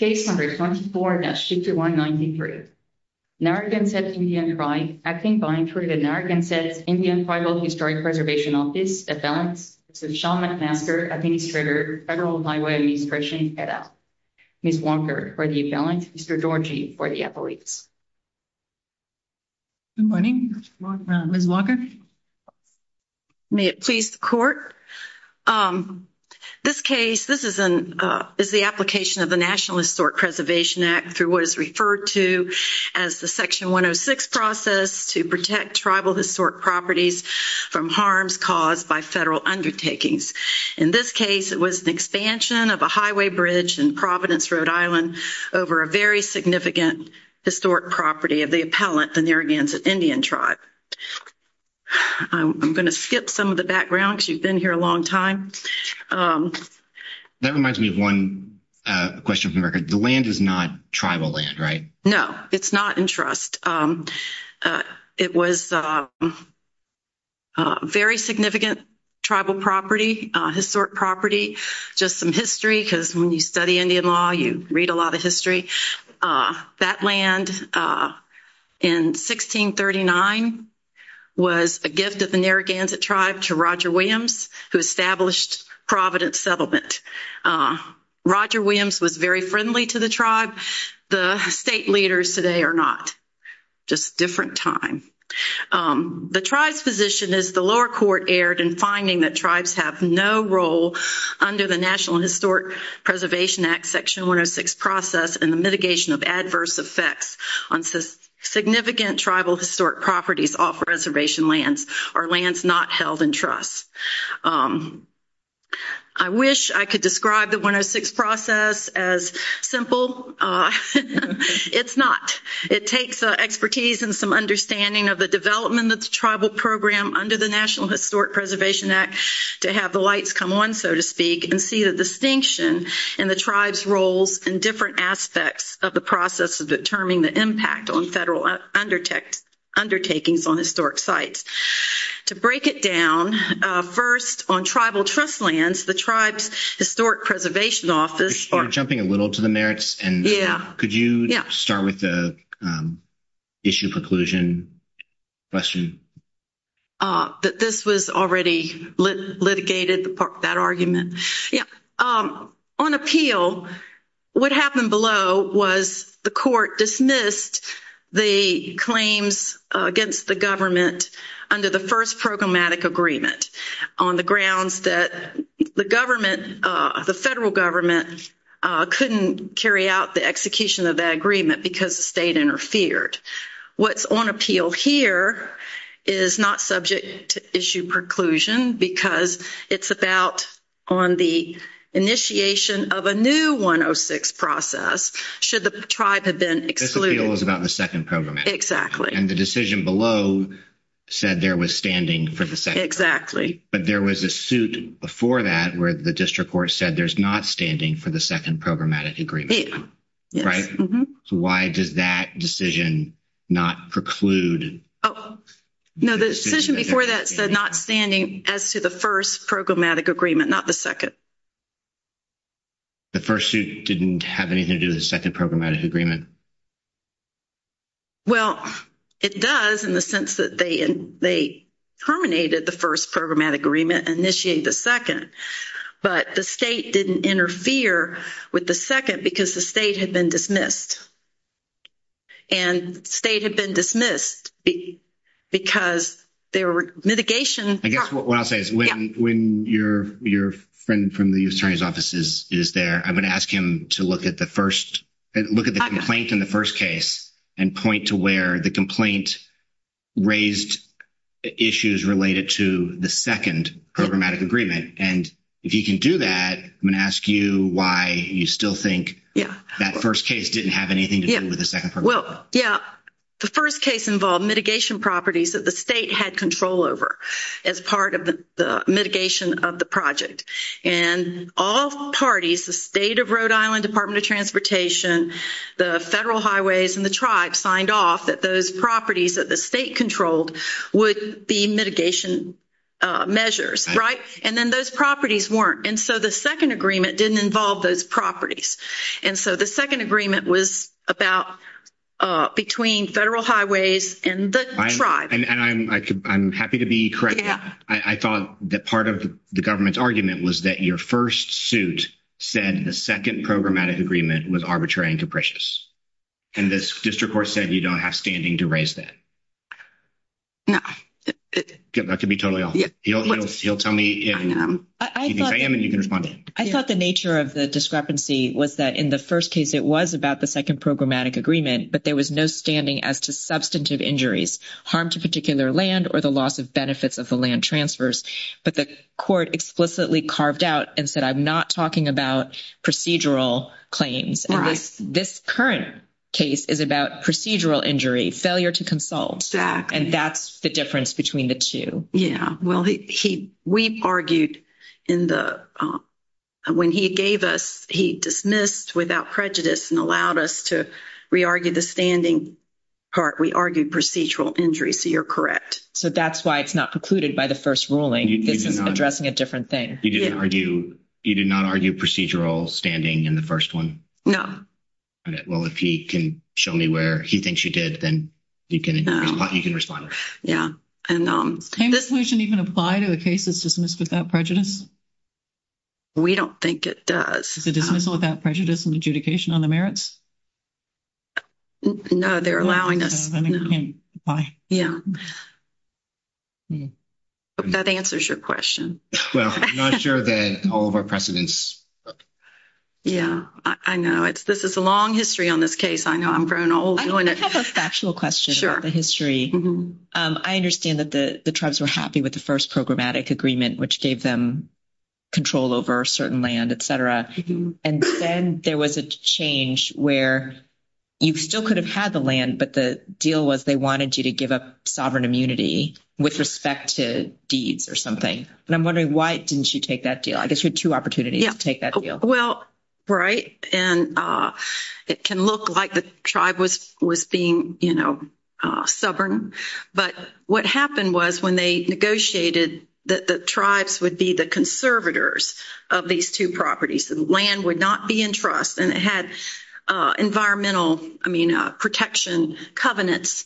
Case number 24-6193. Narragansett Indian Tribe acting by and through the Narragansett Indian Tribal Historic Preservation Office, Appellant, Mr. Sean McMaster, Administrator, Federal Highway Administration, et al. Ms. Walker for the appellant, Mr. Georgi for the appellate. Good morning. Ms. Walker. May it please the court. This case, this is an, is the application of the National Historic Preservation Act through what is referred to as the Section 106 process to protect tribal historic properties from harms caused by federal undertakings. In this case, it was an expansion of a highway bridge in Providence, Rhode Island over a very significant historic property of the appellant, the Narragansett Indian Tribe. I'm going to skip some of the background because you've been here a long time. That reminds me of one question from the record. The land is not tribal land, right? No, it's not in trust. It was a very significant tribal property, historic property, just some because when you study Indian law, you read a lot of history. That land in 1639 was a gift of the Narragansett Tribe to Roger Williams, who established Providence Settlement. Roger Williams was very friendly to the tribe. The state leaders today are not. Just a different time. The tribe's position is the lower court erred in finding that tribes have no role under the National Historic Preservation Act Section 106 process in the mitigation of adverse effects on significant tribal historic properties off reservation lands or lands not held in trust. I wish I could describe the 106 process as simple. It's not. It takes expertise and some understanding of the development of the tribal program under the lights come on, so to speak, and see the distinction in the tribe's roles in different aspects of the process of determining the impact on federal undertakings on historic sites. To break it down, first, on tribal trust lands, the tribe's Historic Preservation Office... You're jumping a little to the merits. Could you start with the issue preclusion question? This was already litigated, that argument. On appeal, what happened below was the court dismissed the claims against the government under the first programmatic agreement on the grounds that the federal government couldn't carry out the execution of that agreement because the state interfered. What's on appeal here is not subject to issue preclusion because it's about on the initiation of a new 106 process should the tribe have been excluded. This appeal is about the second programmatic agreement. Exactly. And the decision below said there was standing for the second programmatic agreement. Exactly. But there was a suit before that where the district court said there's not standing for the second programmatic agreement. Yes. Right? So why does that decision not preclude... No, the decision before that said not standing as to the first programmatic agreement, not the second. The first suit didn't have anything to do with the second programmatic agreement? Well, it does in the sense that they terminated the first programmatic agreement and initiated the second, but the state didn't interfere with the second because the state had been dismissed. And the state had been dismissed because their mitigation... I guess what I'll say is when your friend from the U.S. Attorney's office is there, I'm going to ask him to look at the complaint in the first case and point to where the complaint raised issues related to the second programmatic agreement. And if he can do that, I'm going to ask you why you still think that first case didn't have anything to do with the second programmatic agreement. Well, yeah, the first case involved mitigation properties that the state had control over as part of the mitigation of the project. And all parties, the state of Rhode Island Department of Transportation, the Federal Highways, and the tribe signed off that those properties that the state controlled would be mitigation measures, right? And then those properties weren't. And so the second agreement didn't involve those properties. And so the second agreement was about between Federal Highways and the tribe. And I'm happy to be correct. I thought that part of the government's argument was that your first suit said the second programmatic agreement was arbitrary and capricious. And this district court said you don't have standing to raise that. No. That could be totally off. He'll tell me if he thinks I am, and you can respond. I thought the nature of the discrepancy was that in the first case, it was about the second programmatic agreement, but there was no standing as to substantive injuries, harm to particular land or the loss of benefits of the land transfers. But the court explicitly carved out and said, I'm not talking about procedural claims. And this current case is about procedural injury, failure to consult. And that's the difference between the two. Yeah. Well, we argued when he gave us, he dismissed without prejudice and allowed us to re-argue the standing part. We argued procedural injuries. So you're correct. So that's why it's not precluded by the first ruling. This is addressing a different thing. You did not argue procedural standing in the first one? No. Well, if he can show me where he thinks you did, then you can respond. Yeah. And this motion even apply to the cases dismissed without prejudice? We don't think it does. The dismissal without prejudice and adjudication on the merits? No, they're allowing us. Yeah. That answers your question. Well, I'm not sure that all of our precedents. Yeah, I know. This is a long history on this case. I know I'm growing old doing it. I have a factual question about the history. I understand that the tribes were happy with the first programmatic agreement, which gave them control over certain land, et cetera. And then there was a change where you still could have had the land, but the deal was they wanted you to give up sovereign immunity with respect to deeds or something. And I'm wondering why didn't you take that deal? I guess you had two opportunities to take that deal. Well, right. And it can look like the tribe was being, you know, sovereign. But what happened was when they negotiated that the tribes would be the conservators of these two properties, the land would not be in trust. And it had environmental, I mean, protection covenants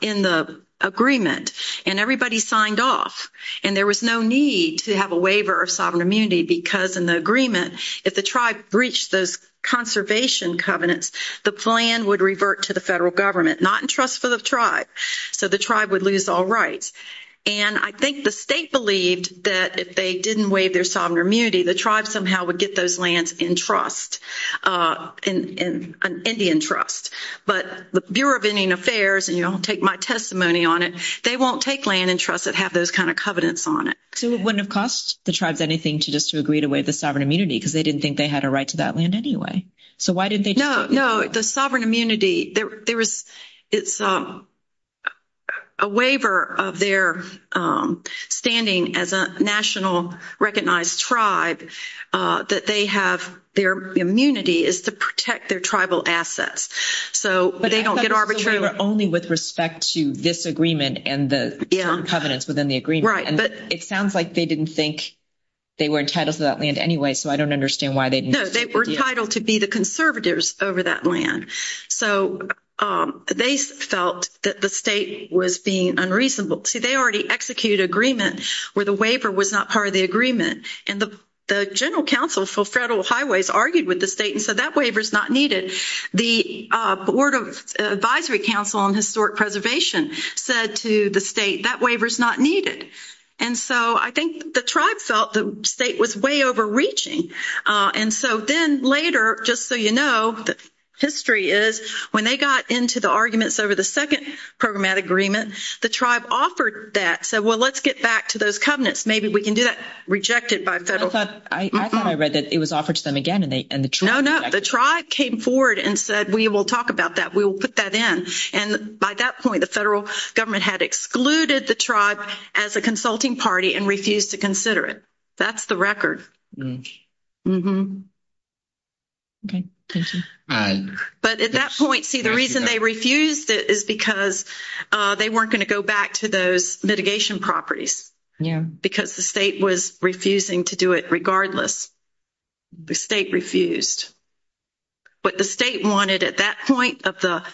in the agreement. And everybody signed off. And there was no need to have a waiver of sovereign immunity because in the agreement, if the tribe breached those conservation covenants, the plan would revert to the federal government, not in trust for the tribe. So the tribe would lose all rights. And I think the state believed that if they didn't waive their sovereign immunity, the tribe somehow would get those lands in trust, in Indian trust. But the Bureau of Indian Affairs, and you'll take my testimony on it, they won't take land in trust that have those kind of covenants on it. So it wouldn't have cost the tribes anything to just to agree to waive the sovereign immunity because they didn't think they had a right to that land anyway. So why didn't they? No, no. The sovereign immunity, there was, it's a waiver of their standing as a national recognized tribe, that they have, their immunity is to protect their tribal assets. So they don't get arbitrarily- But I thought it was a waiver only with respect to this agreement and the covenants within the agreement. And it sounds like they didn't think they were entitled to that land anyway. So I don't understand why they didn't- No, they were entitled to be the conservatives over that land. So they felt that the state was being unreasonable. See, they already executed agreement where the waiver was not part of the agreement. And the General Council for Federal Highways argued with the state and said, that waiver is not needed. The Board of Advisory Council on Historic Preservation said to the state, that waiver is not needed. And so I think the tribe felt the state was way overreaching. And so then later, just so you know, the history is when they got into the arguments over the second programmatic agreement, the tribe offered that, said, well, let's get back to those covenants. Maybe we can do that. Rejected by federal- I thought I read that it was offered to them again and the tribe- No, no. The tribe came forward and said, we will talk about that. We will put that in. And by that point, the federal government had excluded the tribe as a consulting party and refused to consider it. That's the record. Okay, thank you. But at that point, see, the reason they refused it is because they weren't going to go back to those mitigation properties because the state was refusing to do it regardless. The state refused. What the state wanted at that point of the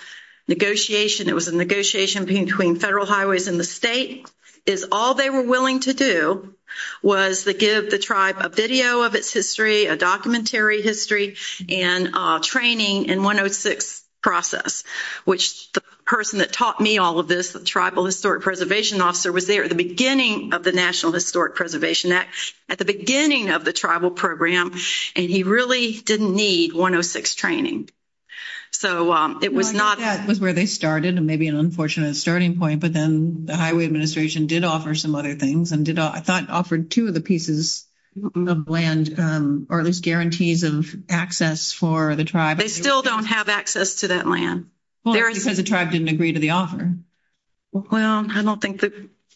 negotiation, it was a negotiation between federal highways and the state, is all they were willing to do was to give the tribe a video of its history, a documentary history, and training in 106 process, which the person that taught me all of this, the tribal historic preservation officer, was there at the beginning of the National Historic Preservation Act, at the beginning of the tribal program, and he really didn't need 106 training. So it was not- Well, I think that was where they started, and maybe an unfortunate starting point, but then the highway administration did offer some other things and did, I thought, offered two of the pieces of land, or at least guarantees of access for the tribe. They still don't have access to that land. Well, it's because the tribe didn't agree to the offer. Well, I don't think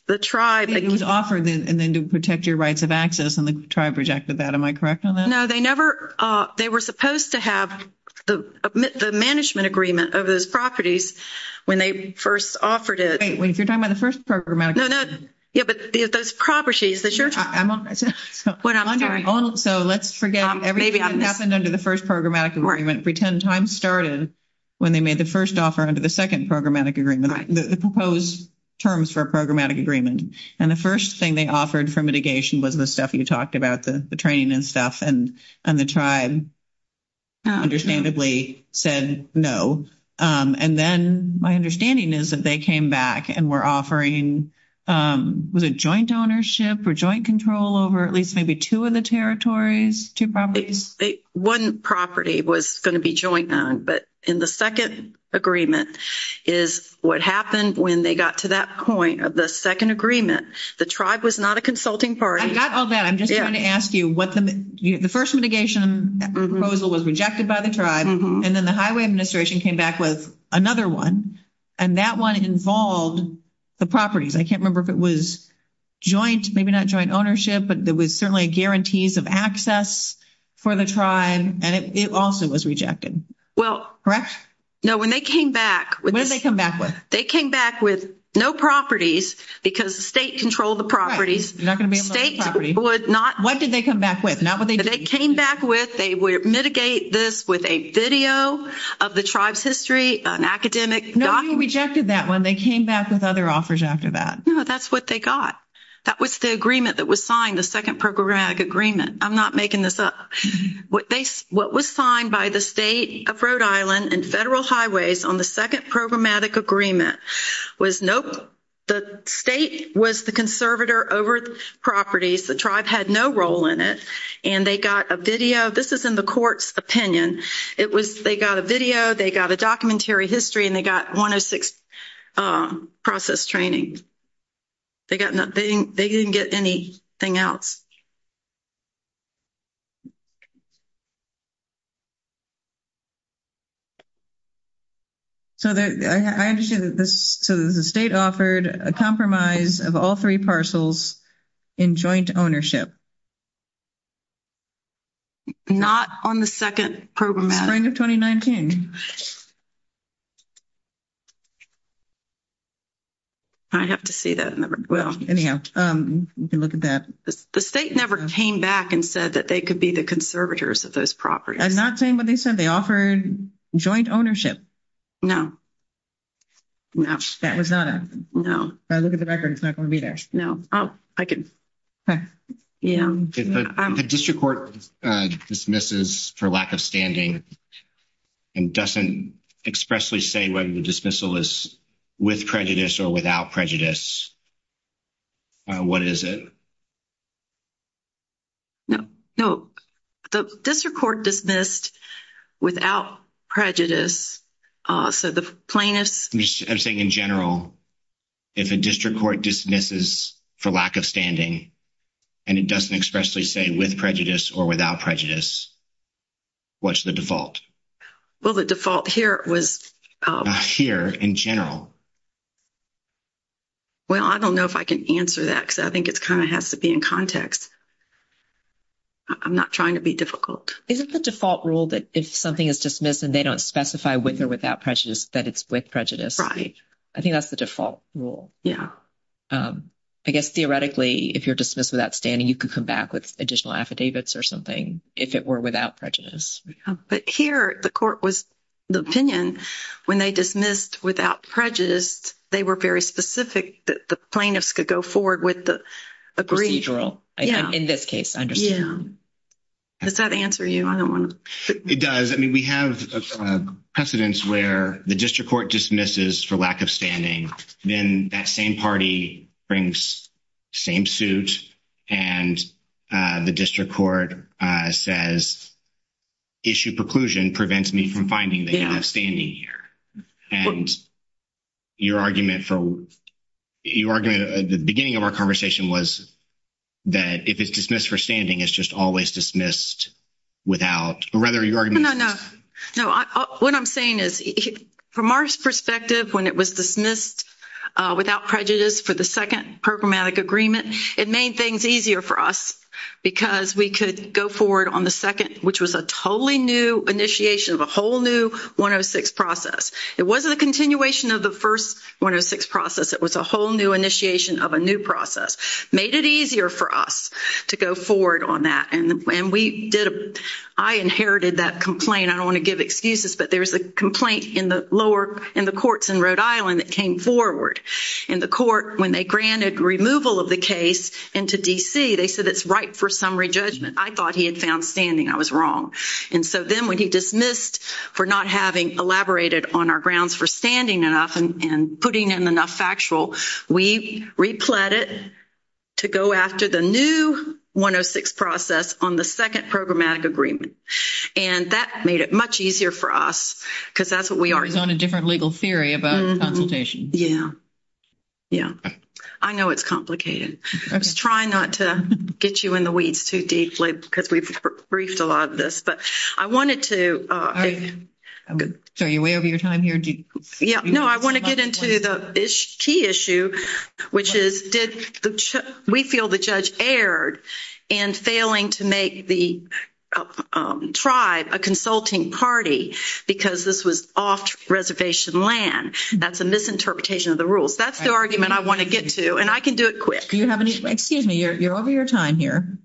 the tribe- It was offered, and then to protect your rights of access, and the tribe rejected that. Am I correct on that? No, they never- they were supposed to have the management agreement of those properties when they first offered it. Wait, wait, if you're talking about the first programmatic agreement- No, no, yeah, but those properties, that's your- Well, I'm sorry. So let's forget everything that happened under the first programmatic agreement. Pretend time started when they made the first offer under the second programmatic agreement, the proposed terms for a programmatic agreement. And the first thing they offered for mitigation was the stuff you talked about, the training and stuff, and the tribe understandably said no. And then my understanding is that they came back and were offering, was it joint ownership or joint control over at least maybe two of the territories, two properties? One property was going to be joined on, but in the second agreement is what happened when they got to that point of the second agreement. The tribe was not a consulting party. I got all that. I'm just trying to ask you what the- the first mitigation proposal was rejected by the tribe, and then the highway administration came back with another one, and that one involved the properties. I can't remember if it was joint, maybe not joint ownership, but there was certainly guarantees of access for the tribe, and it also was rejected. Well- Correct? No. When they came back- What did they come back with? They came back with no properties because the state controlled the properties. You're not going to be able to- States would not- What did they come back with? Not what they- They came back with, they would mitigate this with a video of the tribe's history, an academic document- No, you rejected that one. They came back with other offers after that. No, that's what they got. That was the agreement that was signed, the second programmatic agreement. I'm not making this up. What was signed by the state of Rhode Island and federal highways on the second programmatic agreement was, nope, the state was the conservator over the properties. The tribe had no role in it, and they got a video. This is in the court's opinion. They got a video, they got a documentary history, and they got 106 process training. They got nothing. They didn't get anything else. I understand that the state offered a compromise of all three parcels in joint ownership. Not on the second programmatic. Spring of 2019. I'd have to see that number. Well, anyhow, you can look at that. The state never came back and said that they could be the conservators of those properties. I'm not saying what they said. They offered joint ownership. No, no. That was not a- No. I look at the record, it's not going to be there. No. Oh, I can- Yeah. If the district court dismisses for lack of standing, and doesn't expressly say whether the dismissal is with prejudice or without prejudice, what is it? No, no. The district court dismissed without prejudice, so the plaintiffs- I'm saying in general, if a district court dismisses for lack of standing, and it doesn't expressly say with prejudice or without prejudice, what's the default? Well, the default here was- Here, in general. Well, I don't know if I can answer that, because I think it kind of has to be in context. I'm not trying to be difficult. Isn't the default rule that if something is dismissed, and they don't specify with or without prejudice, that it's with prejudice? Right. I think that's the default rule. Yeah. I guess theoretically, if you're dismissed without standing, you could come back with additional affidavits or something, if it were without prejudice. But here, the court was- the opinion, when they dismissed without prejudice, they were very specific that the plaintiffs could go forward with the agreed- Procedural, in this case, I understand. Yeah. Does that answer you? I don't want to- It does. I mean, we have precedents where the district court dismisses for lack of standing, then that same party brings same suit, and the district court says, issue preclusion prevents me from finding that you have standing here. And your argument for- your argument at the beginning of our conversation was that if it's dismissed for standing, it's just always dismissed without- or rather, your argument- No, no, no. No, what I'm saying is, from our perspective, when it was dismissed without prejudice for the second programmatic agreement, it made things easier for us because we could go forward on the second, which was a totally new initiation of a whole new 106 process. It wasn't a continuation of the first 106 process. It was a whole new initiation of a new process. Made it easier for us to go forward on that. And when we did- I inherited that complaint. I don't want to give excuses, but there was a complaint in the lower- in the courts in Rhode Island that came forward. And the court, when they granted removal of the case into D.C., they said it's ripe for summary judgment. I thought he had found standing. I was wrong. And so then when he dismissed for not having elaborated on our grounds for standing enough and putting in enough factual, we repled it to go after the new 106 process on the second programmatic agreement. And that made it much easier for us because that's what we are- It was on a different legal theory about consultation. Yeah. Yeah. I know it's complicated. I was trying not to get you in the weeds too deeply because we've briefed a lot of this. But I wanted to- Sorry, you're way over your time here. No, I want to get into the key issue, which is did- we feel the judge erred in failing to make the tribe a consulting party because this was off-reservation land. That's a misinterpretation of the rules. That's the argument I want to get to. And I can do it quick. Do you have any- Excuse me, you're over your time here.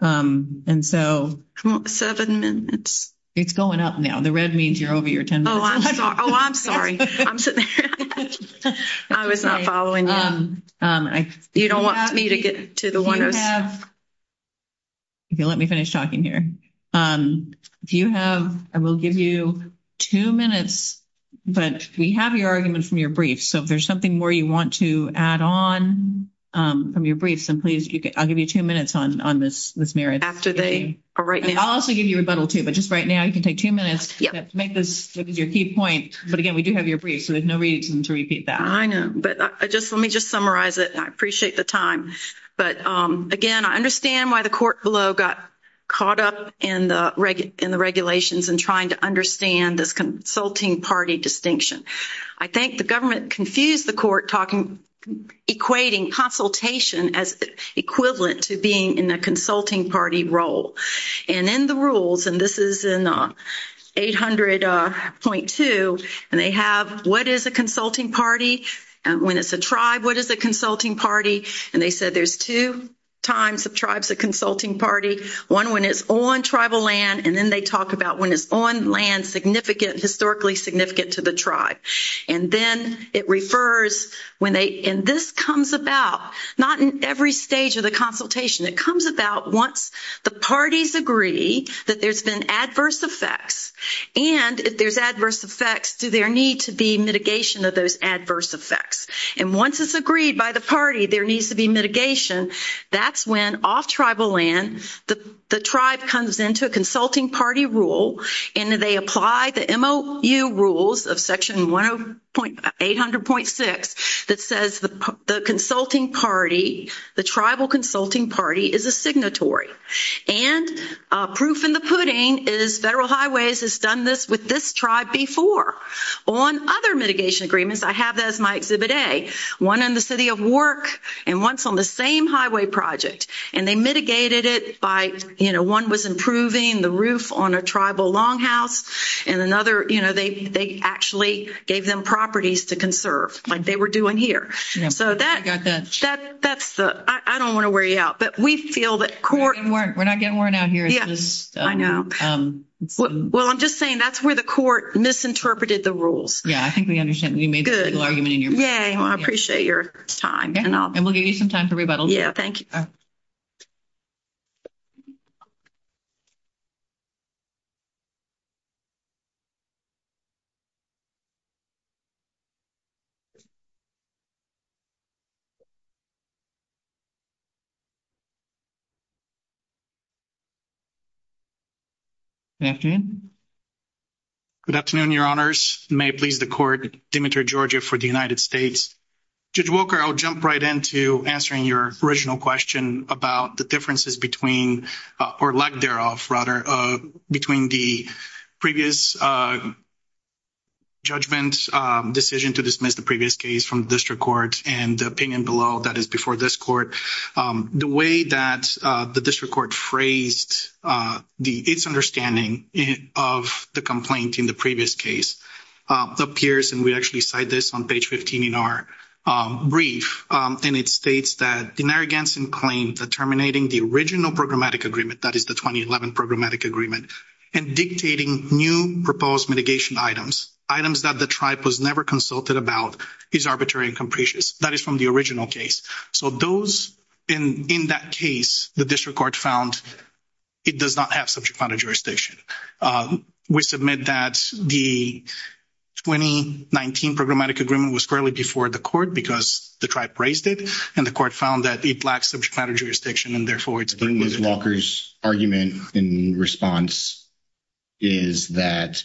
And so- Seven minutes. It's going up now. The red means you're over your 10 minutes. Oh, I'm sorry. I'm sitting there. I was not following you. You don't want me to get to the one- You have- Okay, let me finish talking here. Do you have- I will give you two minutes. But we have your argument from your brief. So if there's something more you want to add on from your briefs, then please, I'll give you two minutes on this merit. After they are right- I'll also give you rebuttal too. But just right now, you can take two minutes to make this your key point. But again, we do have your brief. So there's no reason to repeat that. I know. But let me just summarize it. I appreciate the time. But again, I understand why the court below got caught up in the regulations and trying to understand this consulting party distinction. I think the government confused the court equating consultation as equivalent to being in a consulting party role. And in the rules, and this is in 800.2, and they have, what is a consulting party? When it's a tribe, what is a consulting party? And they said there's two times of tribes a consulting party. One when it's on tribal land. And then they talk about when it's on land significant, historically significant to the tribe. And then it refers when they- and this comes about not in every stage of the consultation. It comes about once the parties agree that there's been adverse effects. And if there's adverse effects, do there need to be mitigation of those adverse effects? And once it's agreed by the party, there needs to be mitigation. That's when off tribal land, the tribe comes into a consulting party rule and they apply the MOU rules of section 800.6 that says the consulting party, the tribal consulting party is a signatory. And proof in the pudding is Federal Highways has done this with this tribe before. On other mitigation agreements, I have that as my exhibit A. One in the city of work and once on the same highway project. And they mitigated it by, you know, one was improving the roof on a tribal longhouse. And another, you know, they actually gave them properties to conserve like they were doing here. So that's the- I don't want to wear you out. But we feel that court- We're not getting worn out here. Yeah, I know. Well, I'm just saying that's where the court misinterpreted the rules. Yeah, I think we understand. You made the legal argument in your- Yeah, I appreciate your time. Yeah, and we'll give you some time to rebuttal. Yeah, thank you. Good afternoon. Good afternoon, Your Honors. May it please the court, Demetre Georgia for the United States. Judge Walker, I'll jump right into answering your original question about the differences between- or lack thereof, rather, between the previous judgment decision to dismiss the previous case from the district court and the opinion below that is before this court. The way that the district court phrased its understanding of the complaint in the previous case appears, and we actually cite this on page 15 in our brief, and it states that Denari Ganson claimed that terminating the original programmatic agreement, that is the 2011 programmatic agreement, and dictating new proposed mitigation items, items that the tribe was never consulted about, is arbitrary and capricious. That is from the original case. So those- in that case, the district court found it does not have subject matter jurisdiction. We submit that the 2019 programmatic agreement was currently before the court because the tribe praised it, and the court found that it lacks subject matter jurisdiction, and therefore, it's been- Judge Walker's argument in response is that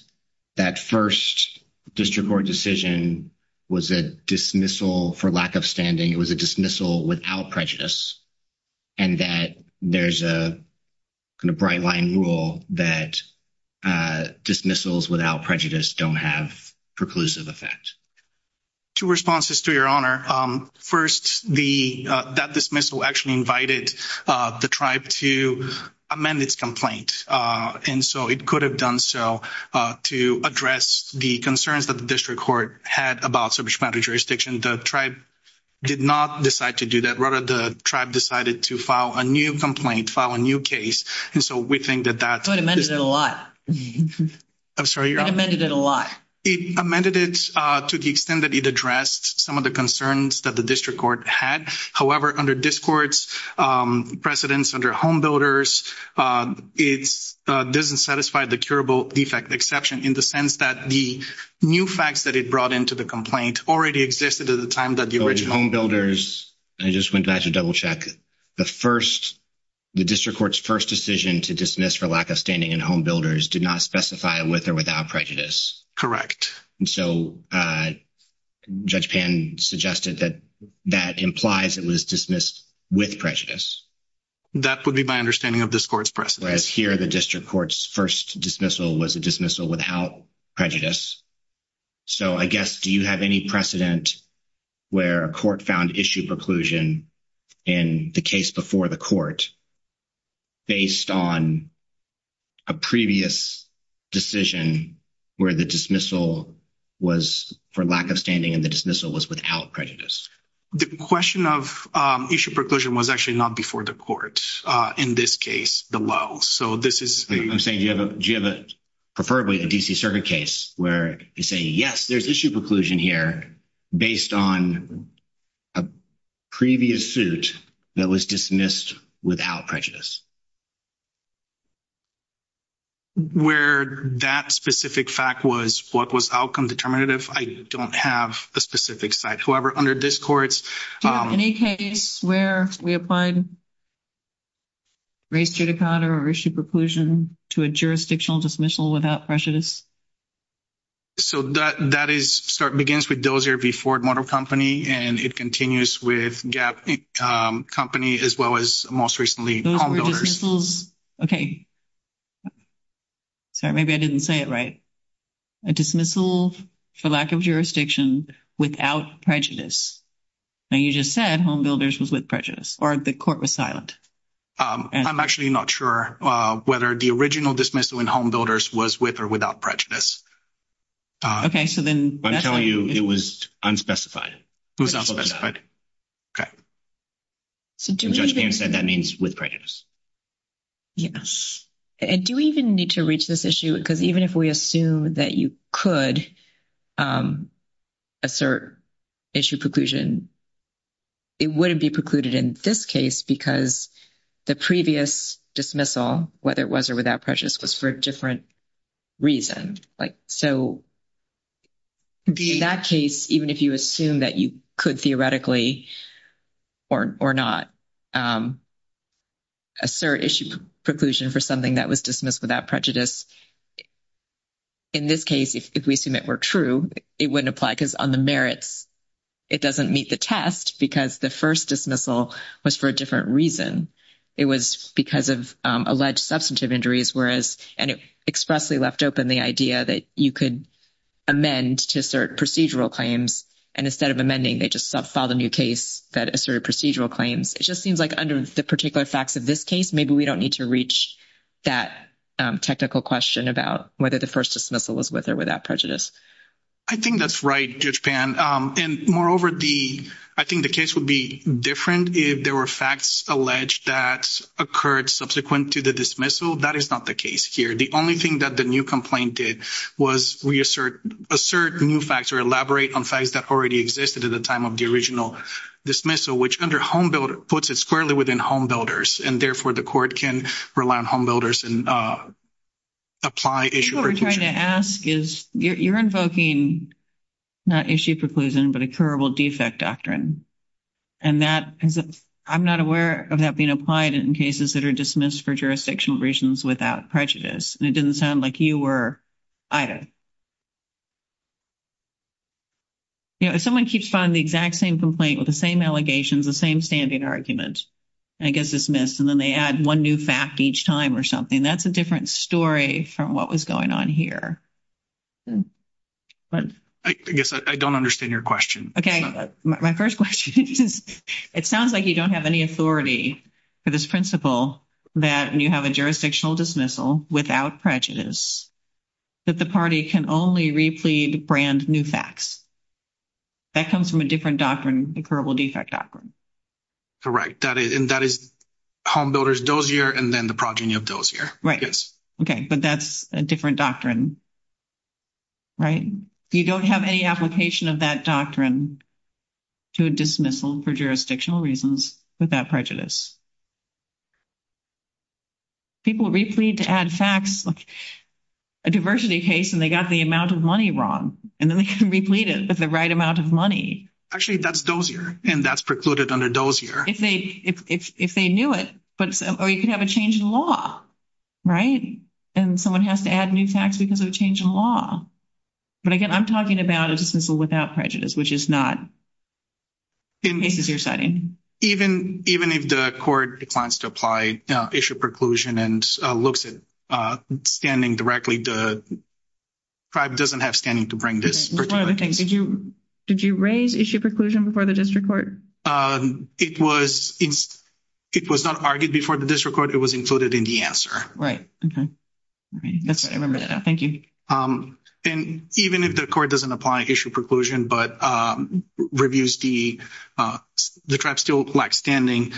that first district court decision was a dismissal for lack of standing. It was a dismissal without prejudice, and that there's a kind of bright line rule that dismissals without prejudice don't have preclusive effect. Two responses to your honor. First, the- that dismissal actually invited the tribe to amend its complaint, and so it could have done so to address the concerns that the district court had about subject matter jurisdiction. The tribe did not decide to do that. Rather, the tribe decided to file a new complaint, file a new case, and so we think that that- So it amended it a lot. I'm sorry, your honor. It amended it a lot. It amended it to the extent that it addressed some of the concerns that the district court had. However, under this court's precedence under homebuilders, it doesn't satisfy the curable defect exception in the sense that the new facts that it brought into the complaint already existed at the time that the original- Homebuilders. I just went back to double check. The first- the district court's first decision to dismiss for lack of standing in homebuilders did not specify with or without prejudice. And so Judge Pan suggested that that implies it was dismissed with prejudice. That would be my understanding of this court's precedence. Whereas here, the district court's first dismissal was a dismissal without prejudice. So I guess, do you have any precedent where a court found issue preclusion in the case before the court based on a previous decision where the dismissal was for lack of standing and the dismissal was without prejudice? The question of issue preclusion was actually not before the court. In this case, the low. So this is- I'm saying, do you have a preferably a D.C. circuit case where you say, yes, there's issue preclusion here based on a previous suit that was dismissed without prejudice? Where that specific fact was what was outcome determinative, I don't have a specific site. However, under this court's- Do you have any case where we applied race judicata or issue preclusion to a jurisdictional dismissal without prejudice? So that is- begins with Dozier v. Ford Motor Company, and it continues with Gap Company as well as most recently HomeBuilders. Those were dismissals- Okay. Sorry, maybe I didn't say it right. A dismissal for lack of jurisdiction without prejudice. Now, you just said HomeBuilders was with prejudice or the court was silent. I'm actually not sure whether the original dismissal in HomeBuilders was with or without prejudice. Okay. So then- I'm telling you it was unspecified. It was unspecified. Okay. So do we even- Judge Payne said that means with prejudice. Yes. And do we even need to reach this issue? Because even if we assume that you could assert issue preclusion, it wouldn't be precluded in this case because the previous dismissal, whether it was or without prejudice, was for a different reason. So in that case, even if you assume that you could theoretically or not assert issue preclusion for something that was dismissed without prejudice, in this case, if we assume it were true, it wouldn't apply because on the merits, it doesn't meet the test because the first dismissal was for a different reason. It was because of alleged substantive injuries. And it expressly left open the idea that you could amend to assert procedural claims. And instead of amending, they just filed a new case that asserted procedural claims. It just seems like under the particular facts of this case, maybe we don't need to reach that technical question about whether the first dismissal was with or without prejudice. I think that's right, Judge Payne. And moreover, I think the case would be different if there were facts alleged that occurred subsequent to the dismissal. That is not the case here. The only thing that the new complaint did was we assert new facts or elaborate on facts that already existed at the time of the original dismissal, which under homebuilder puts it squarely within homebuilders. And therefore, the court can rely on homebuilders and apply issue preclusion. I think what we're trying to ask is you're invoking not issue preclusion, but a curable defect doctrine. And that is I'm not aware of that being applied in cases that are dismissed for jurisdictional reasons without prejudice. And it didn't sound like you were either. If someone keeps filing the exact same complaint with the same allegations, the same standing argument, and it gets dismissed, and then they add one new fact each time or something, that's a different story from what was going on here. I guess I don't understand your question. Okay. My first question is, it sounds like you don't have any authority for this principle that when you have a jurisdictional dismissal without prejudice, that the party can only replete brand new facts. That comes from a different doctrine, a curable defect doctrine. Correct. And that is homebuilders dozier and then the progeny of dozier. Right. Okay. But that's a different doctrine. Right. You don't have any application of that doctrine. To dismissal for jurisdictional reasons without prejudice. People replete to add facts like a diversity case, and they got the amount of money wrong, and then they can replete it with the right amount of money. Actually, that's dozier. And that's precluded under dozier. If they knew it, or you can have a change in law. Right. And someone has to add new facts because of a change in law. But again, I'm talking about a dismissal without prejudice, which is not cases you're citing. Even if the court declines to apply issue preclusion and looks at standing directly, the tribe doesn't have standing to bring this particular case. Did you raise issue preclusion before the district court? It was not argued before the district court. It was included in the answer. Right. Okay. I remember that now. Thank you. And even if the court doesn't apply issue preclusion, but reviews the tribe still lack standing,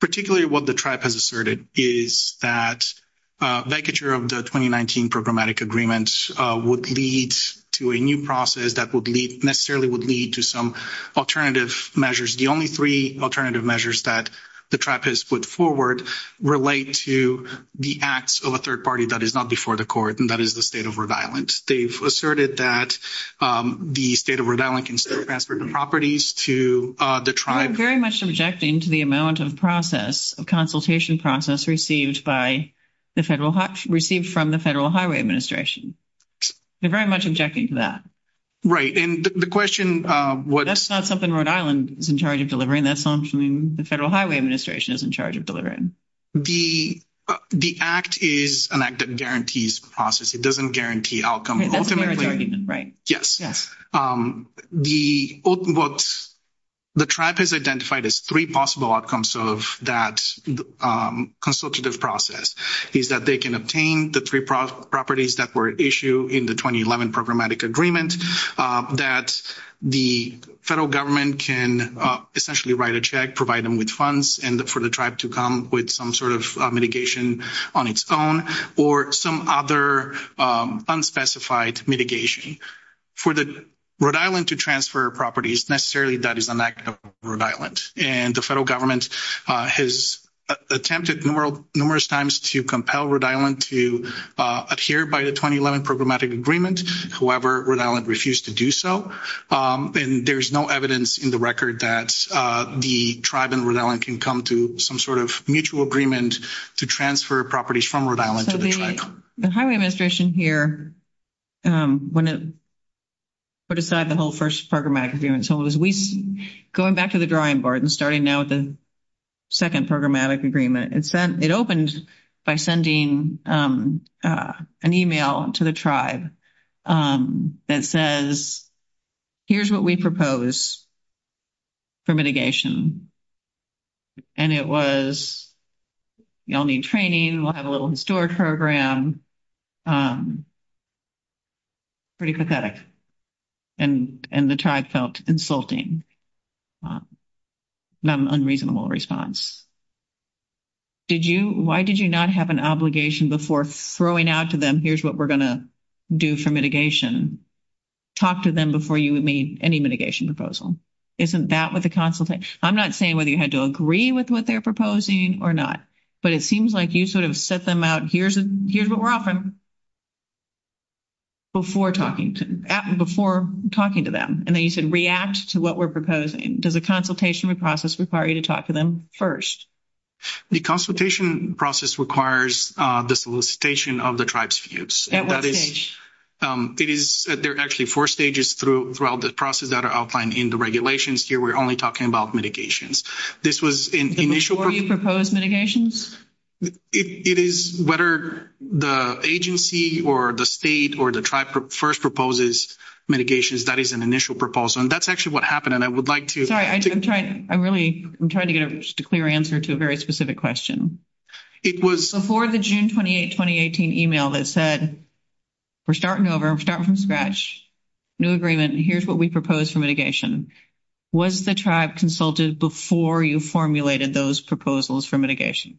particularly what the tribe has asserted is that vacature of the 2019 programmatic agreement would lead to a new process that necessarily would lead to some alternative measures. The only three alternative measures that the tribe has put forward relate to the acts of a third party that is not before the court, and that is the state of Rhode Island. They've asserted that the state of Rhode Island can still transfer the properties to the tribe. Very much objecting to the amount of consultation process received from the Federal Highway Administration. They're very much objecting to that. Right. And the question... That's not something Rhode Island is in charge of delivering. That's something the Federal Highway Administration is in charge of delivering. The act is an act that guarantees process. It doesn't guarantee outcome. Okay. That's a fair argument, right? Yes. Yes. What the tribe has identified as three possible outcomes of that consultative process is that they can obtain the three properties that were issued in the 2011 programmatic agreement, that the federal government can essentially write a check, provide them with funds, and for the tribe to come with some sort of mitigation on its own or some other unspecified mitigation. For Rhode Island to transfer properties, necessarily that is an act of Rhode Island. And the federal government has attempted numerous times to compel Rhode Island to adhere by the 2011 programmatic agreement. However, Rhode Island refused to do so. And there's no evidence in the record that the tribe in Rhode Island can come to some sort of mutual agreement to transfer properties from Rhode Island to the tribe. The Highway Administration here, when it put aside the whole first programmatic agreement, going back to the drawing board and starting now with the second programmatic agreement, it opened by sending an email to the tribe that says, here's what we propose for mitigation. And it was, y'all need training, we'll have a little historic program. Pretty pathetic. And the tribe felt insulting. Not an unreasonable response. Did you, why did you not have an obligation before throwing out to them, here's what we're going to do for mitigation? Talk to them before you made any mitigation proposal. Isn't that what the consultation, I'm not saying whether you had to agree with what they're proposing or not, but it seems like you sort of set them out, here's what we're offering before talking to them. And then you said react to what we're proposing. Does a consultation process require you to talk to them first? The consultation process requires the solicitation of the tribe's views. It is, there are actually four stages throughout the process that are outlined in the regulations. Here, we're only talking about mitigations. This was an initial... Before you propose mitigations? It is, whether the agency or the state or the tribe first proposes mitigations, that is an initial proposal. And that's actually what happened. And I would like to... Very specific question. It was... Before the June 28, 2018 email that said, we're starting over, we're starting from scratch, new agreement, and here's what we propose for mitigation. Was the tribe consulted before you formulated those proposals for mitigation?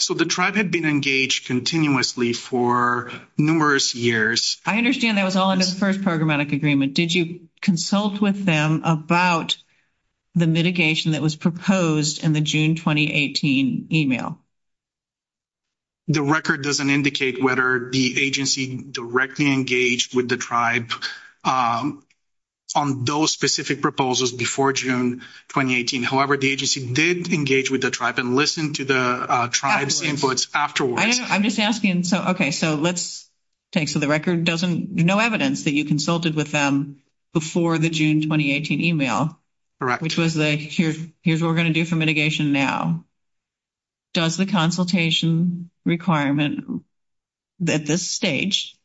So, the tribe had been engaged continuously for numerous years. I understand that was all in the first programmatic agreement. Did you consult with them about the mitigation that was proposed in the June, 2018 email? The record doesn't indicate whether the agency directly engaged with the tribe on those specific proposals before June, 2018. However, the agency did engage with the tribe and listen to the tribe's inputs afterwards. I don't know. I'm just asking. Okay, so let's take... So, the record doesn't... No evidence that you consulted with them before the June, 2018 email. Correct. Which was the, here's what we're going to do for mitigation now. Does the consultation requirement at this stage,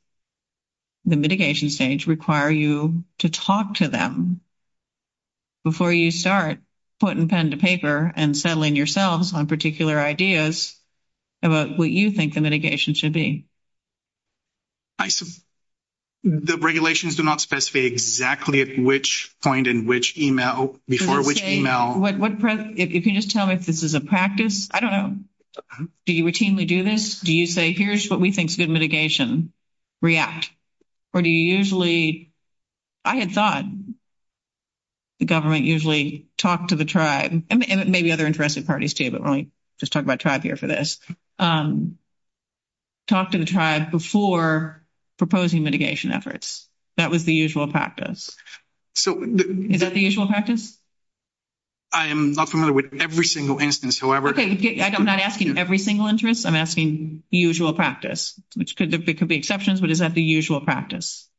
the mitigation stage, require you to talk to them before you start putting pen to paper and settling yourselves on particular ideas about what you think the mitigation should be? I... The regulations do not specify exactly at which point in which email, before which email. I was going to say, if you can just tell me if this is a practice. I don't know. Do you routinely do this? Do you say, here's what we think is good mitigation, react? Or do you usually... I had thought the government usually talked to the tribe, and maybe other interested parties too, but we're only just talking about tribe here for this, talk to the tribe before proposing mitigation efforts. That was the usual practice. So... Is that the usual practice? I am not familiar with every single instance, however... Okay, I'm not asking every single interest. I'm asking the usual practice, which could be exceptions, but is that the usual practice?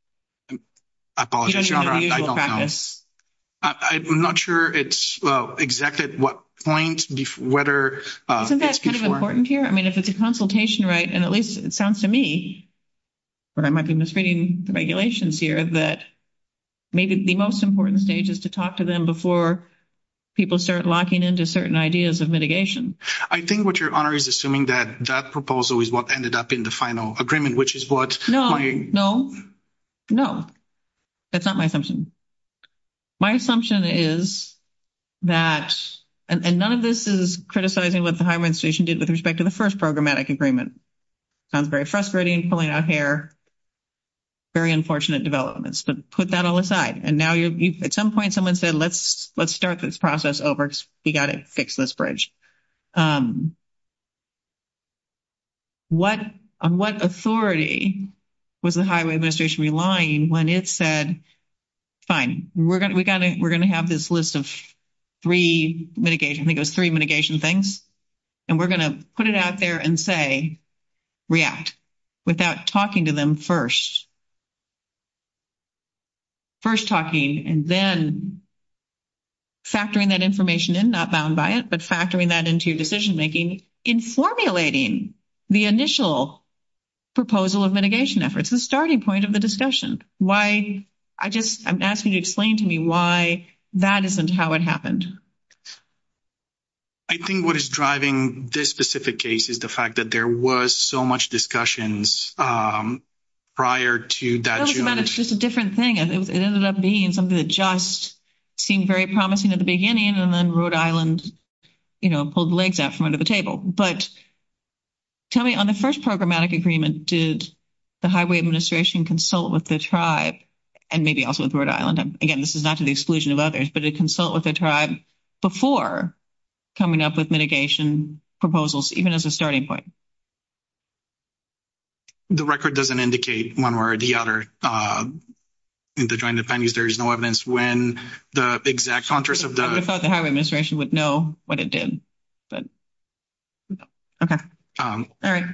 I apologize, I don't know. I'm not sure it's exactly at what point, whether... Isn't that kind of important here? I mean, if it's a consultation, right? And at least it sounds to me, but I might be misreading the regulations here, that maybe the most important stage is to talk to them before people start locking into certain ideas of mitigation. I think what your honor is assuming that that proposal is what ended up in the final agreement, which is what... No, no, no. That's not my assumption. My assumption is that... And none of this is criticizing what the highway administration did with respect to the first programmatic agreement. Sounds very frustrating, pulling out hair, very unfortunate developments, but put that all aside. And now at some point, someone said, let's start this process over because we got to fix this bridge. On what authority was the highway administration relying when it said, fine, we're going to have this list of three mitigation, I think it was three mitigation things. And we're going to put it out there and say, react without talking to them first. First talking and then factoring that information in, not bound by it, but factoring that into your decision-making in formulating the initial proposal of mitigation efforts, the starting point of the discussion. Why... I'm asking you to explain to me why that isn't how it happened. I think what is driving this specific case is the fact that there was so much discussions prior to that... It's just a different thing. It ended up being something that just seemed very promising at the beginning and then Rhode Island pulled the legs out from under the table. But tell me, on the first programmatic agreement, did the highway administration consult with the tribe and maybe also with Rhode Island? Again, this is not to the exclusion of others, but to consult with the tribe before coming up with mitigation proposals, even as a the record doesn't indicate one way or the other. In the joint appendix, there is no evidence when the exact... I would have thought the highway administration would know what it did, but... Okay. All right.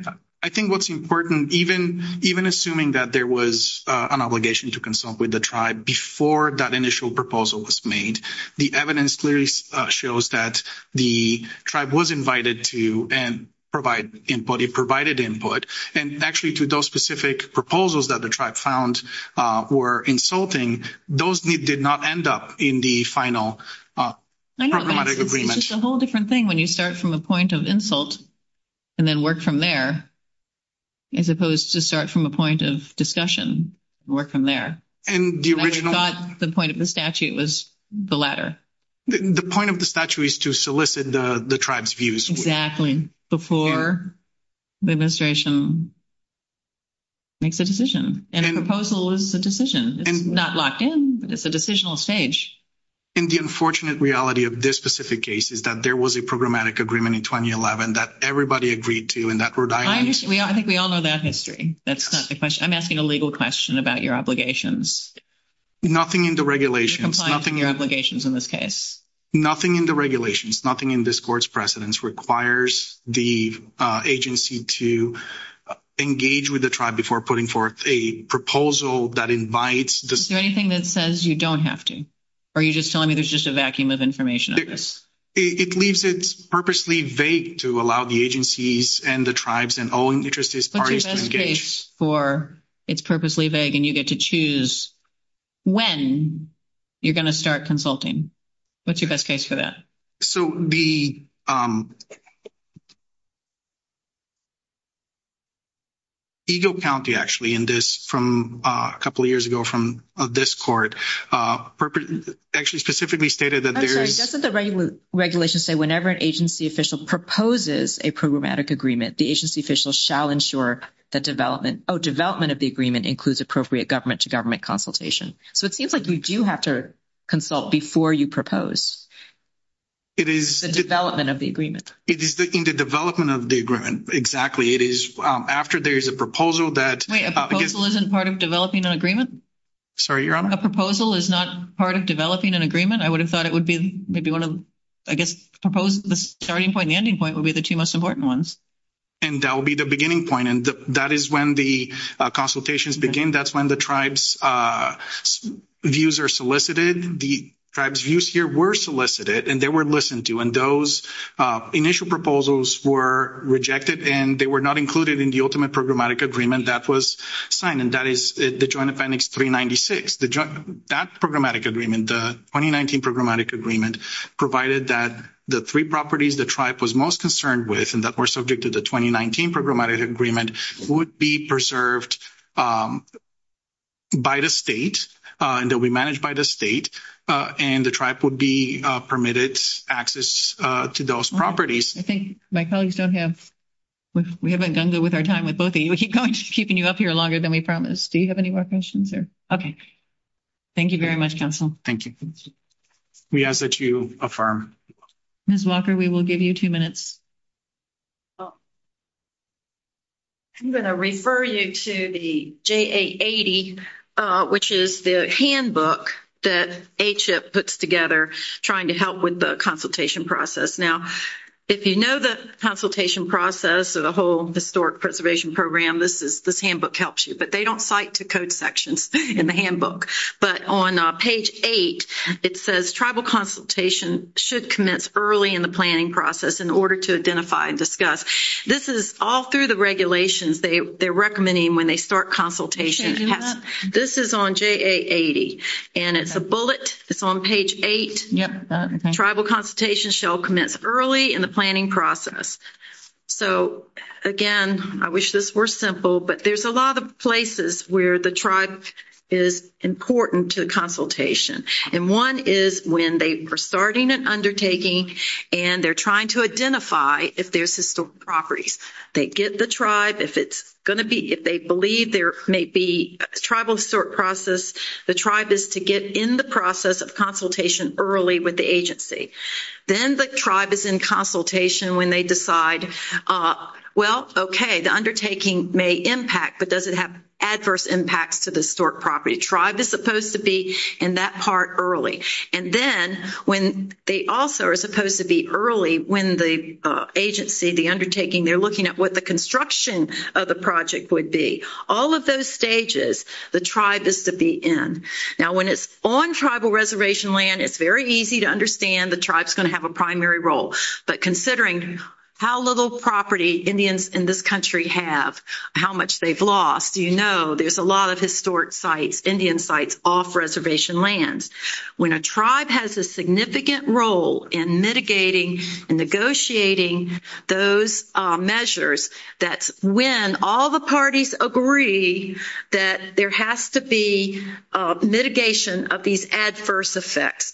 I think what's important, even assuming that there was an obligation to consult with the tribe before that initial proposal was made, the evidence clearly shows that the tribe was invited to provide input. It provided input. And actually, to those specific proposals that the tribe found were insulting, those did not end up in the final programmatic agreement. It's just a whole different thing when you start from a point of insult and then work from there, as opposed to start from a point of discussion and work from there. And the original... I thought the point of the statute was the latter. The point of the statute is to solicit the tribe's views. Exactly. Before the administration makes a decision. And a proposal is a decision. It's not locked in, but it's a decisional stage. And the unfortunate reality of this specific case is that there was a programmatic agreement in 2011 that everybody agreed to in that Rhode Island... I think we all know that history. That's not the question. I'm asking a legal question about your obligations. Nothing in the regulations. Nothing in your obligations in this case. Nothing in the regulations, nothing in this court's precedence requires the agency to engage with the tribe before putting forth a proposal that invites... Is there anything that says you don't have to? Or are you just telling me there's just a vacuum of information on this? It leaves it purposely vague to allow the agencies and the tribes and all interested parties to engage. It's purposely vague and you get to choose when you're going to start consulting. What's your best case for that? So the Eagle County, actually, in this from a couple of years ago from this court, actually specifically stated that there is... Doesn't the regulation say whenever an agency official proposes a programmatic agreement, the agency official shall ensure that development... Oh, development of the agreement includes appropriate government-to-government consultation. So it seems like you do have to consult before you propose the development of the agreement. It is in the development of the agreement, exactly. It is after there is a proposal that... Wait, a proposal isn't part of developing an agreement? Sorry, Your Honor? A proposal is not part of developing an agreement? I would have thought it would be maybe one of... I guess the starting point and the ending point would be the two most important ones. And that would be the beginning point. And that is when the consultations begin. That's when the tribe's views are solicited. The tribe's views here were solicited and they were listened to. And those initial proposals were rejected and they were not included in the ultimate programmatic agreement that was signed. And that is the Joint Appendix 396. That programmatic agreement, the 2019 programmatic agreement, provided that the three properties the tribe was most concerned with and that were subject to the 2019 programmatic agreement would be preserved by the state and they'll be managed by the state. And the tribe would be permitted access to those properties. I think my colleagues don't have... We haven't done good with our time with both of you. We keep keeping you up here longer than we promised. Do you have any more questions there? Okay. Thank you very much, counsel. Thank you. We ask that you affirm. Ms. Walker, we will give you two minutes. Oh. I'm going to refer you to the JA80, which is the handbook that HF puts together trying to help with the consultation process. Now, if you know the consultation process of the whole Historic Preservation Program, this handbook helps you. But they don't cite to code sections in the handbook. But on page eight, it says tribal consultation should commence early in the planning process in order to identify and discuss. This is all through the regulations they're recommending when they start consultation. This is on JA80. And it's a bullet. It's on page eight. Tribal consultation shall commence early in the planning process. So, again, I wish this were simple. But there's a lot of places where the tribe is important to consultation. And one is when they are starting an undertaking, and they're trying to identify if there's historic properties. They get the tribe. If it's going to be, if they believe there may be a tribal historic process, the tribe is to get in the process of consultation early with the agency. Then the tribe is in consultation when they decide, well, okay, the undertaking may impact, but does it have adverse impacts to the historic property? Tribe is supposed to be in that part early. And then when they also are supposed to be early, when the agency, the undertaking, they're looking at what the construction of the project would be. All of those stages, the tribe is to be in. Now, when it's on tribal reservation land, it's very easy to understand the tribe's going to have a primary role. But considering how little property Indians in this country have, how much they've lost, there's a lot of historic sites, Indian sites off reservation lands. When a tribe has a significant role in mitigating and negotiating those measures, that's when all the parties agree that there has to be mitigation of these adverse effects.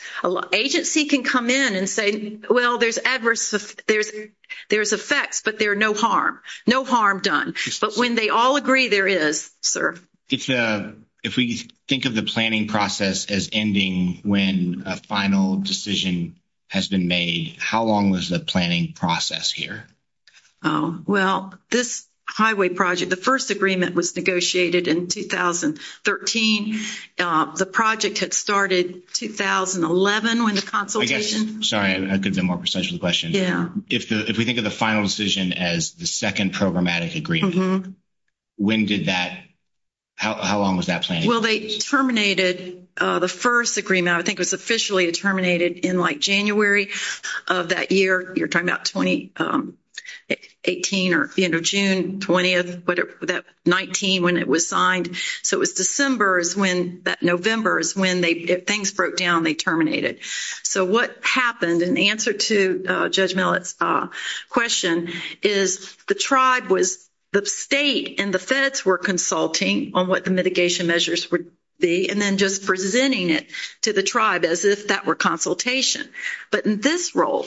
Agency can come in and say, well, there's adverse, there's effects, but there are no harm, no harm done. But when they all agree, there is, sir. If we think of the planning process as ending when a final decision has been made, how long was the planning process here? Oh, well, this highway project, the first agreement was negotiated in 2013. The project had started 2011 when the consultation... I guess, sorry, I could have been more precise with the question. Yeah. If we think of the final decision as the second programmatic agreement, when did that, how long was that planning? Well, they terminated the first agreement, I think it was officially terminated in like January of that year. You're talking about 2018 or the end of June 20th, but that 19 when it was signed. So it was December is when that November is when things broke down, they terminated. So what happened in answer to Judge Millett's question is the tribe was, the state and the feds were consulting on what the mitigation measures would be, and then just presenting it to the tribe as if that were consultation. But in this role,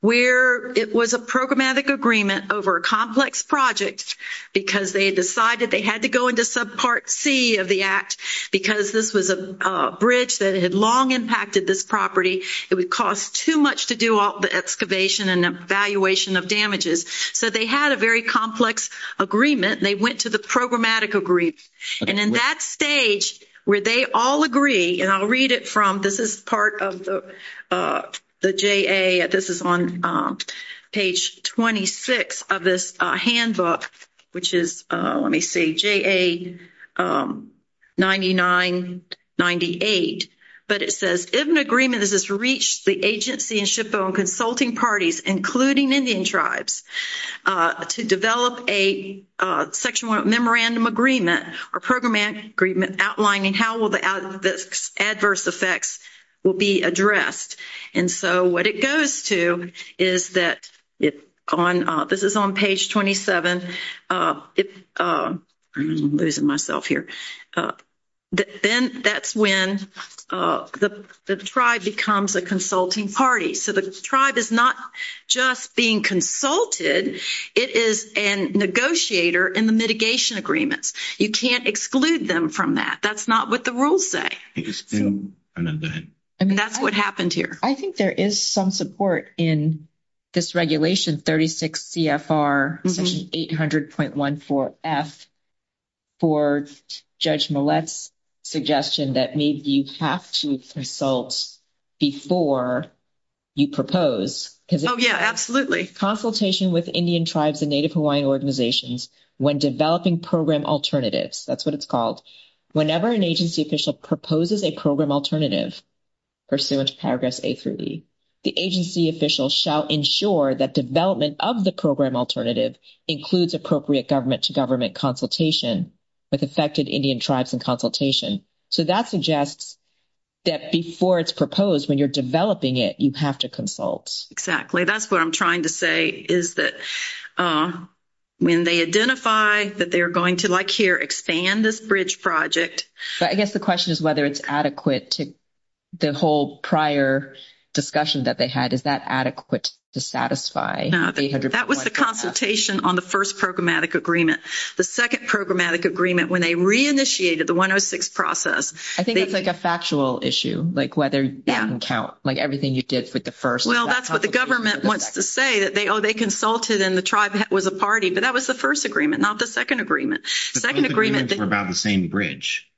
where it was a programmatic agreement over a complex project, because they decided they had to go into subpart C of the act, because this was a bridge that had long impacted this property, it would cost too much to do all the excavation and evaluation of damages. So they had a very complex agreement, they went to the programmatic agreement. And in that stage, where they all agree, and I'll read it from, this is part of the the JA, this is on page 26 of this handbook, which is, let me see, JA 99-98. But it says, if an agreement has reached the agency and SHPO and consulting parties, including Indian tribes, to develop a section one memorandum agreement, or programmatic agreement outlining how the adverse effects will be addressed. And so what it goes to is that, this is on page 27, then that's when the tribe becomes a consulting party. So the tribe is not just being consulted, it is a negotiator in the mitigation agreements. You can't exclude them from that, that's not what the rules say. That's what happened here. I think there is some support in this regulation, 36 CFR section 800.14F, for Judge Millett's suggestion that maybe you have to consult before you propose. Oh yeah, absolutely. Consultation with Indian tribes and Native Hawaiian organizations when developing program alternatives, that's what it's called. Whenever an agency official proposes a program alternative, pursuant to Paragraphs A-B, the agency official shall ensure that development of the program alternative includes appropriate government-to-government consultation with affected Indian tribes and consultation. So that suggests that before it's proposed, when you're developing it, you have to consult. Exactly. That's what I'm trying to say, is that when they identify that they're going to, like here, expand this bridge project. But I guess the question is whether it's adequate, the whole prior discussion that they had, is that adequate to satisfy 800.14F? That was the consultation on the first programmatic agreement. The second programmatic agreement, when they reinitiated the 106 process. I think that's like a factual issue, like whether that can count, like everything you did with the first. Well, that's what the government wants to say, that they consulted and the tribe was a party. But that was the first agreement, not the second agreement. The second agreement was about the same bridge.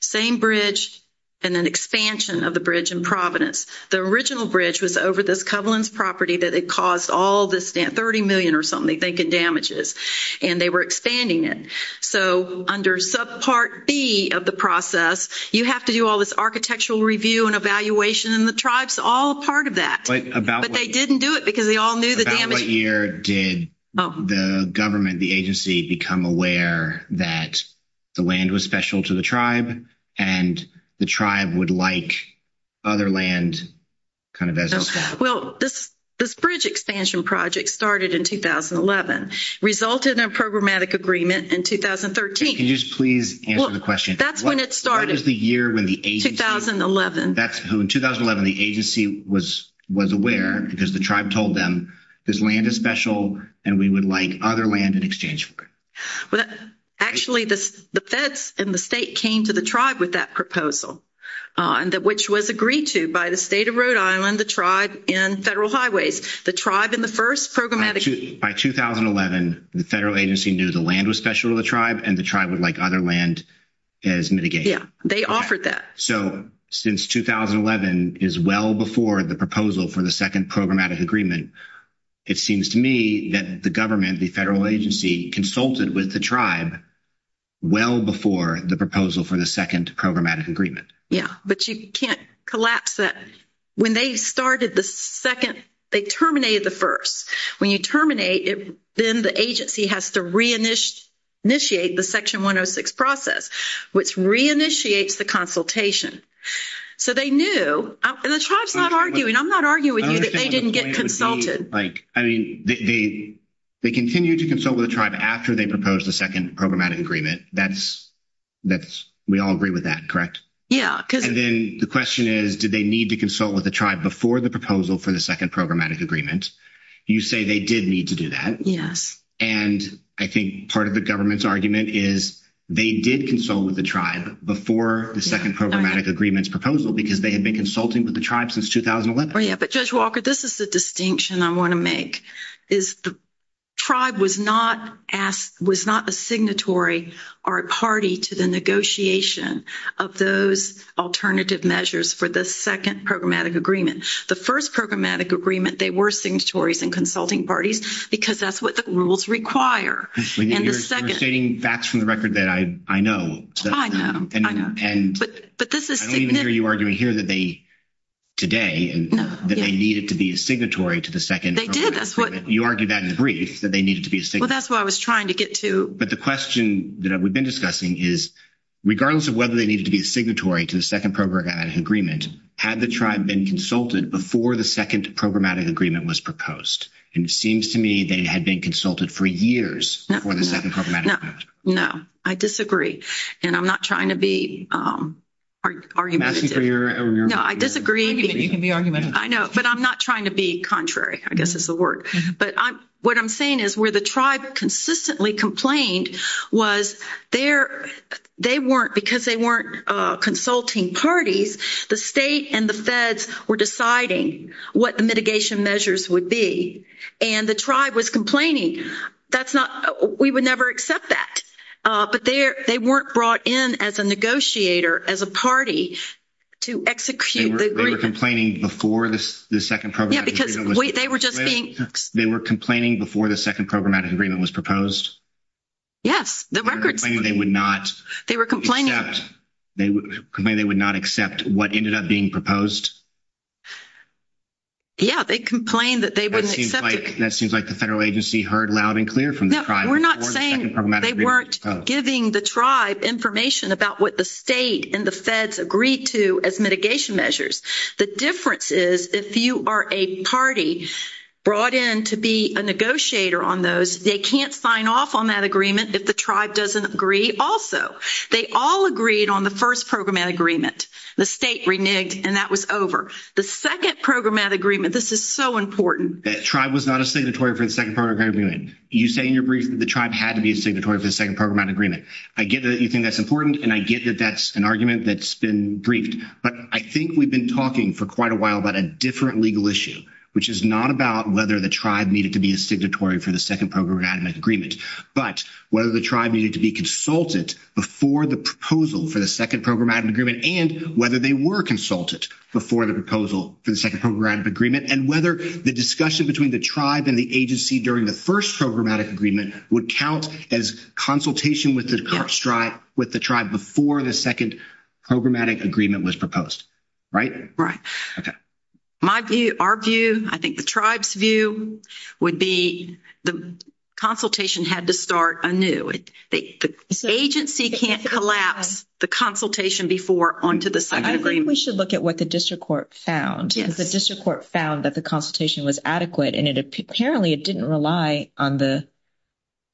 Same bridge, and then expansion of the bridge in Providence. The original bridge was over this Covellands property that it caused all this, 30 million or something, they think it damages, and they were expanding it. So under Subpart B of the process, you have to do all this architectural review and evaluation, and the tribe's all part of that. But they didn't do it because they all knew the damage. About what year did the government, the agency, become aware that the land was special to the tribe, and the tribe would like other land kind of as well? Well, this bridge expansion project started in 2011, resulted in a programmatic agreement in 2013. Can you just please answer the question? That's when it started. What is the year when the agency? In 2011, the agency was aware because the tribe told them, this land is special and we would like other land in exchange for it. Actually, the feds in the state came to the tribe with that proposal, which was agreed to by the state of Rhode Island, the tribe in Federal Highways. The tribe in the first programmatic... By 2011, the federal agency knew the land was special to the tribe, and the tribe would like other land as mitigation. Yeah, they offered that. So, since 2011 is well before the proposal for the second programmatic agreement, it seems to me that the government, the federal agency, consulted with the tribe well before the proposal for the second programmatic agreement. Yeah, but you can't collapse that. When they started the second, they terminated the first. When you terminate, then the agency has to re-initiate the Section 106 process, which re-initiates the consultation. So, they knew, and the tribe's not arguing. I'm not arguing with you that they didn't get consulted. Like, I mean, they continued to consult with the tribe after they proposed the second programmatic agreement. We all agree with that, correct? Yeah, because... And then the question is, did they need to consult with the tribe before the proposal for the second programmatic agreement? You say they did need to do that. Yes. And I think part of the government's argument is they did consult with the tribe before the second programmatic agreement's proposal because they had been consulting with the tribe since 2011. Yeah, but Judge Walker, this is the distinction I want to make, is the tribe was not a signatory or a party to the negotiation of those alternative measures for the second programmatic agreement. The first programmatic agreement, they were signatories and consulting parties because that's what the rules require, and the second... You're stating facts from the record that I know. I know, I know. And I don't even hear you arguing here that they, today, and that they needed to be a signatory to the second programmatic agreement. They did, that's what... You argued that in the brief, that they needed to be a signatory. Well, that's what I was trying to get to. But the question that we've been discussing is, regardless of whether they needed to be a signatory to the second programmatic agreement, had the tribe been consulted before the second programmatic agreement was proposed? And it seems to me they had been consulted for years before the second programmatic agreement. No, I disagree. And I'm not trying to be argumentative. I'm asking for your... No, I disagree. You can be argumentative. I know, but I'm not trying to be contrary, I guess is the word. But what I'm saying is where the tribe consistently complained was they weren't, because they weren't consulting parties, the state and the feds were deciding what the mitigation measures would be. And the tribe was complaining. That's not... We would never accept that. But they weren't brought in as a negotiator, as a party to execute the agreement. They were complaining before the second programmatic agreement was proposed? Yes, the records... They were complaining they would not accept what ended up being proposed? Yeah, they complained that they wouldn't accept it. That seems like the federal agency heard loud and clear from the tribe before the second... No, we're not saying they weren't giving the tribe information about what the state and the feds agreed to as mitigation measures. The difference is if you are a party brought in to be a negotiator on those, they can't sign off on that agreement if the tribe doesn't agree also. They all agreed on the first programmatic agreement. The state reneged and that was over. The second programmatic agreement, this is so important. That tribe was not a signatory for the second programmatic agreement. You say in your brief that the tribe had to be a signatory for the second programmatic agreement. I get that you think that's important and I get that that's an argument that's been briefed. But I think we've been talking for quite a while about a different legal issue, which is not about whether the tribe needed to be a signatory for the second programmatic agreement, but whether the tribe needed to be consulted before the proposal for the second programmatic agreement and whether they were consulted before the proposal for the second programmatic agreement and whether the discussion between the tribe and the agency during the first programmatic agreement would count as consultation with the tribe before the second programmatic agreement was proposed. Right? Okay. My view, our view, I think the tribe's view would be the consultation had to start anew. The agency can't collapse the consultation before onto the second agreement. I think we should look at what the district court found. The district court found that the consultation was adequate and apparently it didn't rely on the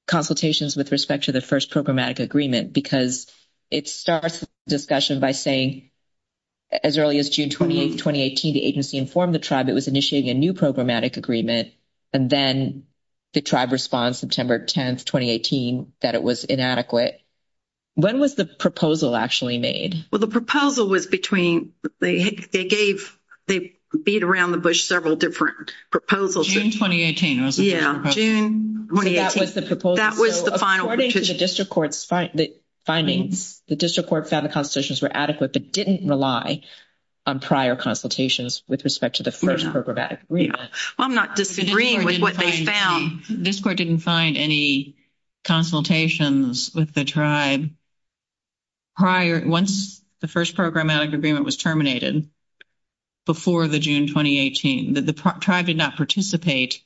consultations with respect to the first programmatic agreement because it starts the discussion by saying as early as June 28, 2018, the agency informed the tribe it was initiating a new programmatic agreement and then the tribe responds September 10, 2018, it was inadequate. When was the proposal actually made? Well, the proposal was between, they gave, they beat around the bush several different proposals. June 2018 was the proposal. Yeah, June 2018. That was the proposal. That was the final. According to the district court's findings, the district court found the consultations were adequate but didn't rely on prior consultations with respect to the first programmatic agreement. Well, I'm not disagreeing with what they found. District court didn't find any consultations with the tribe prior, once the first programmatic agreement was terminated before the June 2018, the tribe did not participate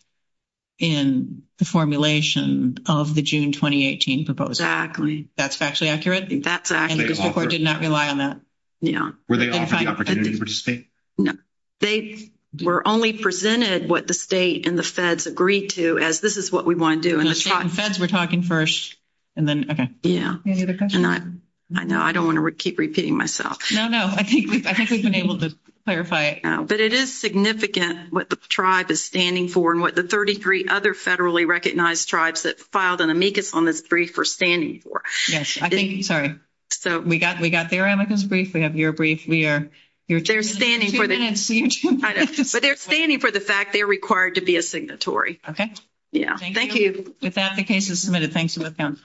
in the formulation of the June 2018 proposal. That's factually accurate? That's accurate. And the district court did not rely on that? Yeah. Were they offered the opportunity to participate? No. We're only presented what the state and the feds agreed to as this is what we want to do. And the feds were talking first and then, okay. Yeah. I know, I don't want to keep repeating myself. No, no. I think we've been able to clarify it. But it is significant what the tribe is standing for and what the 33 other federally recognized tribes that filed an amicus on this brief are standing for. Yes, I think, sorry. We got their amicus brief. We have your brief. We are, they're standing for. I know, but they're standing for the fact they're required to be a signatory. Yeah. Thank you. With that, the case is submitted. Thanks for the account.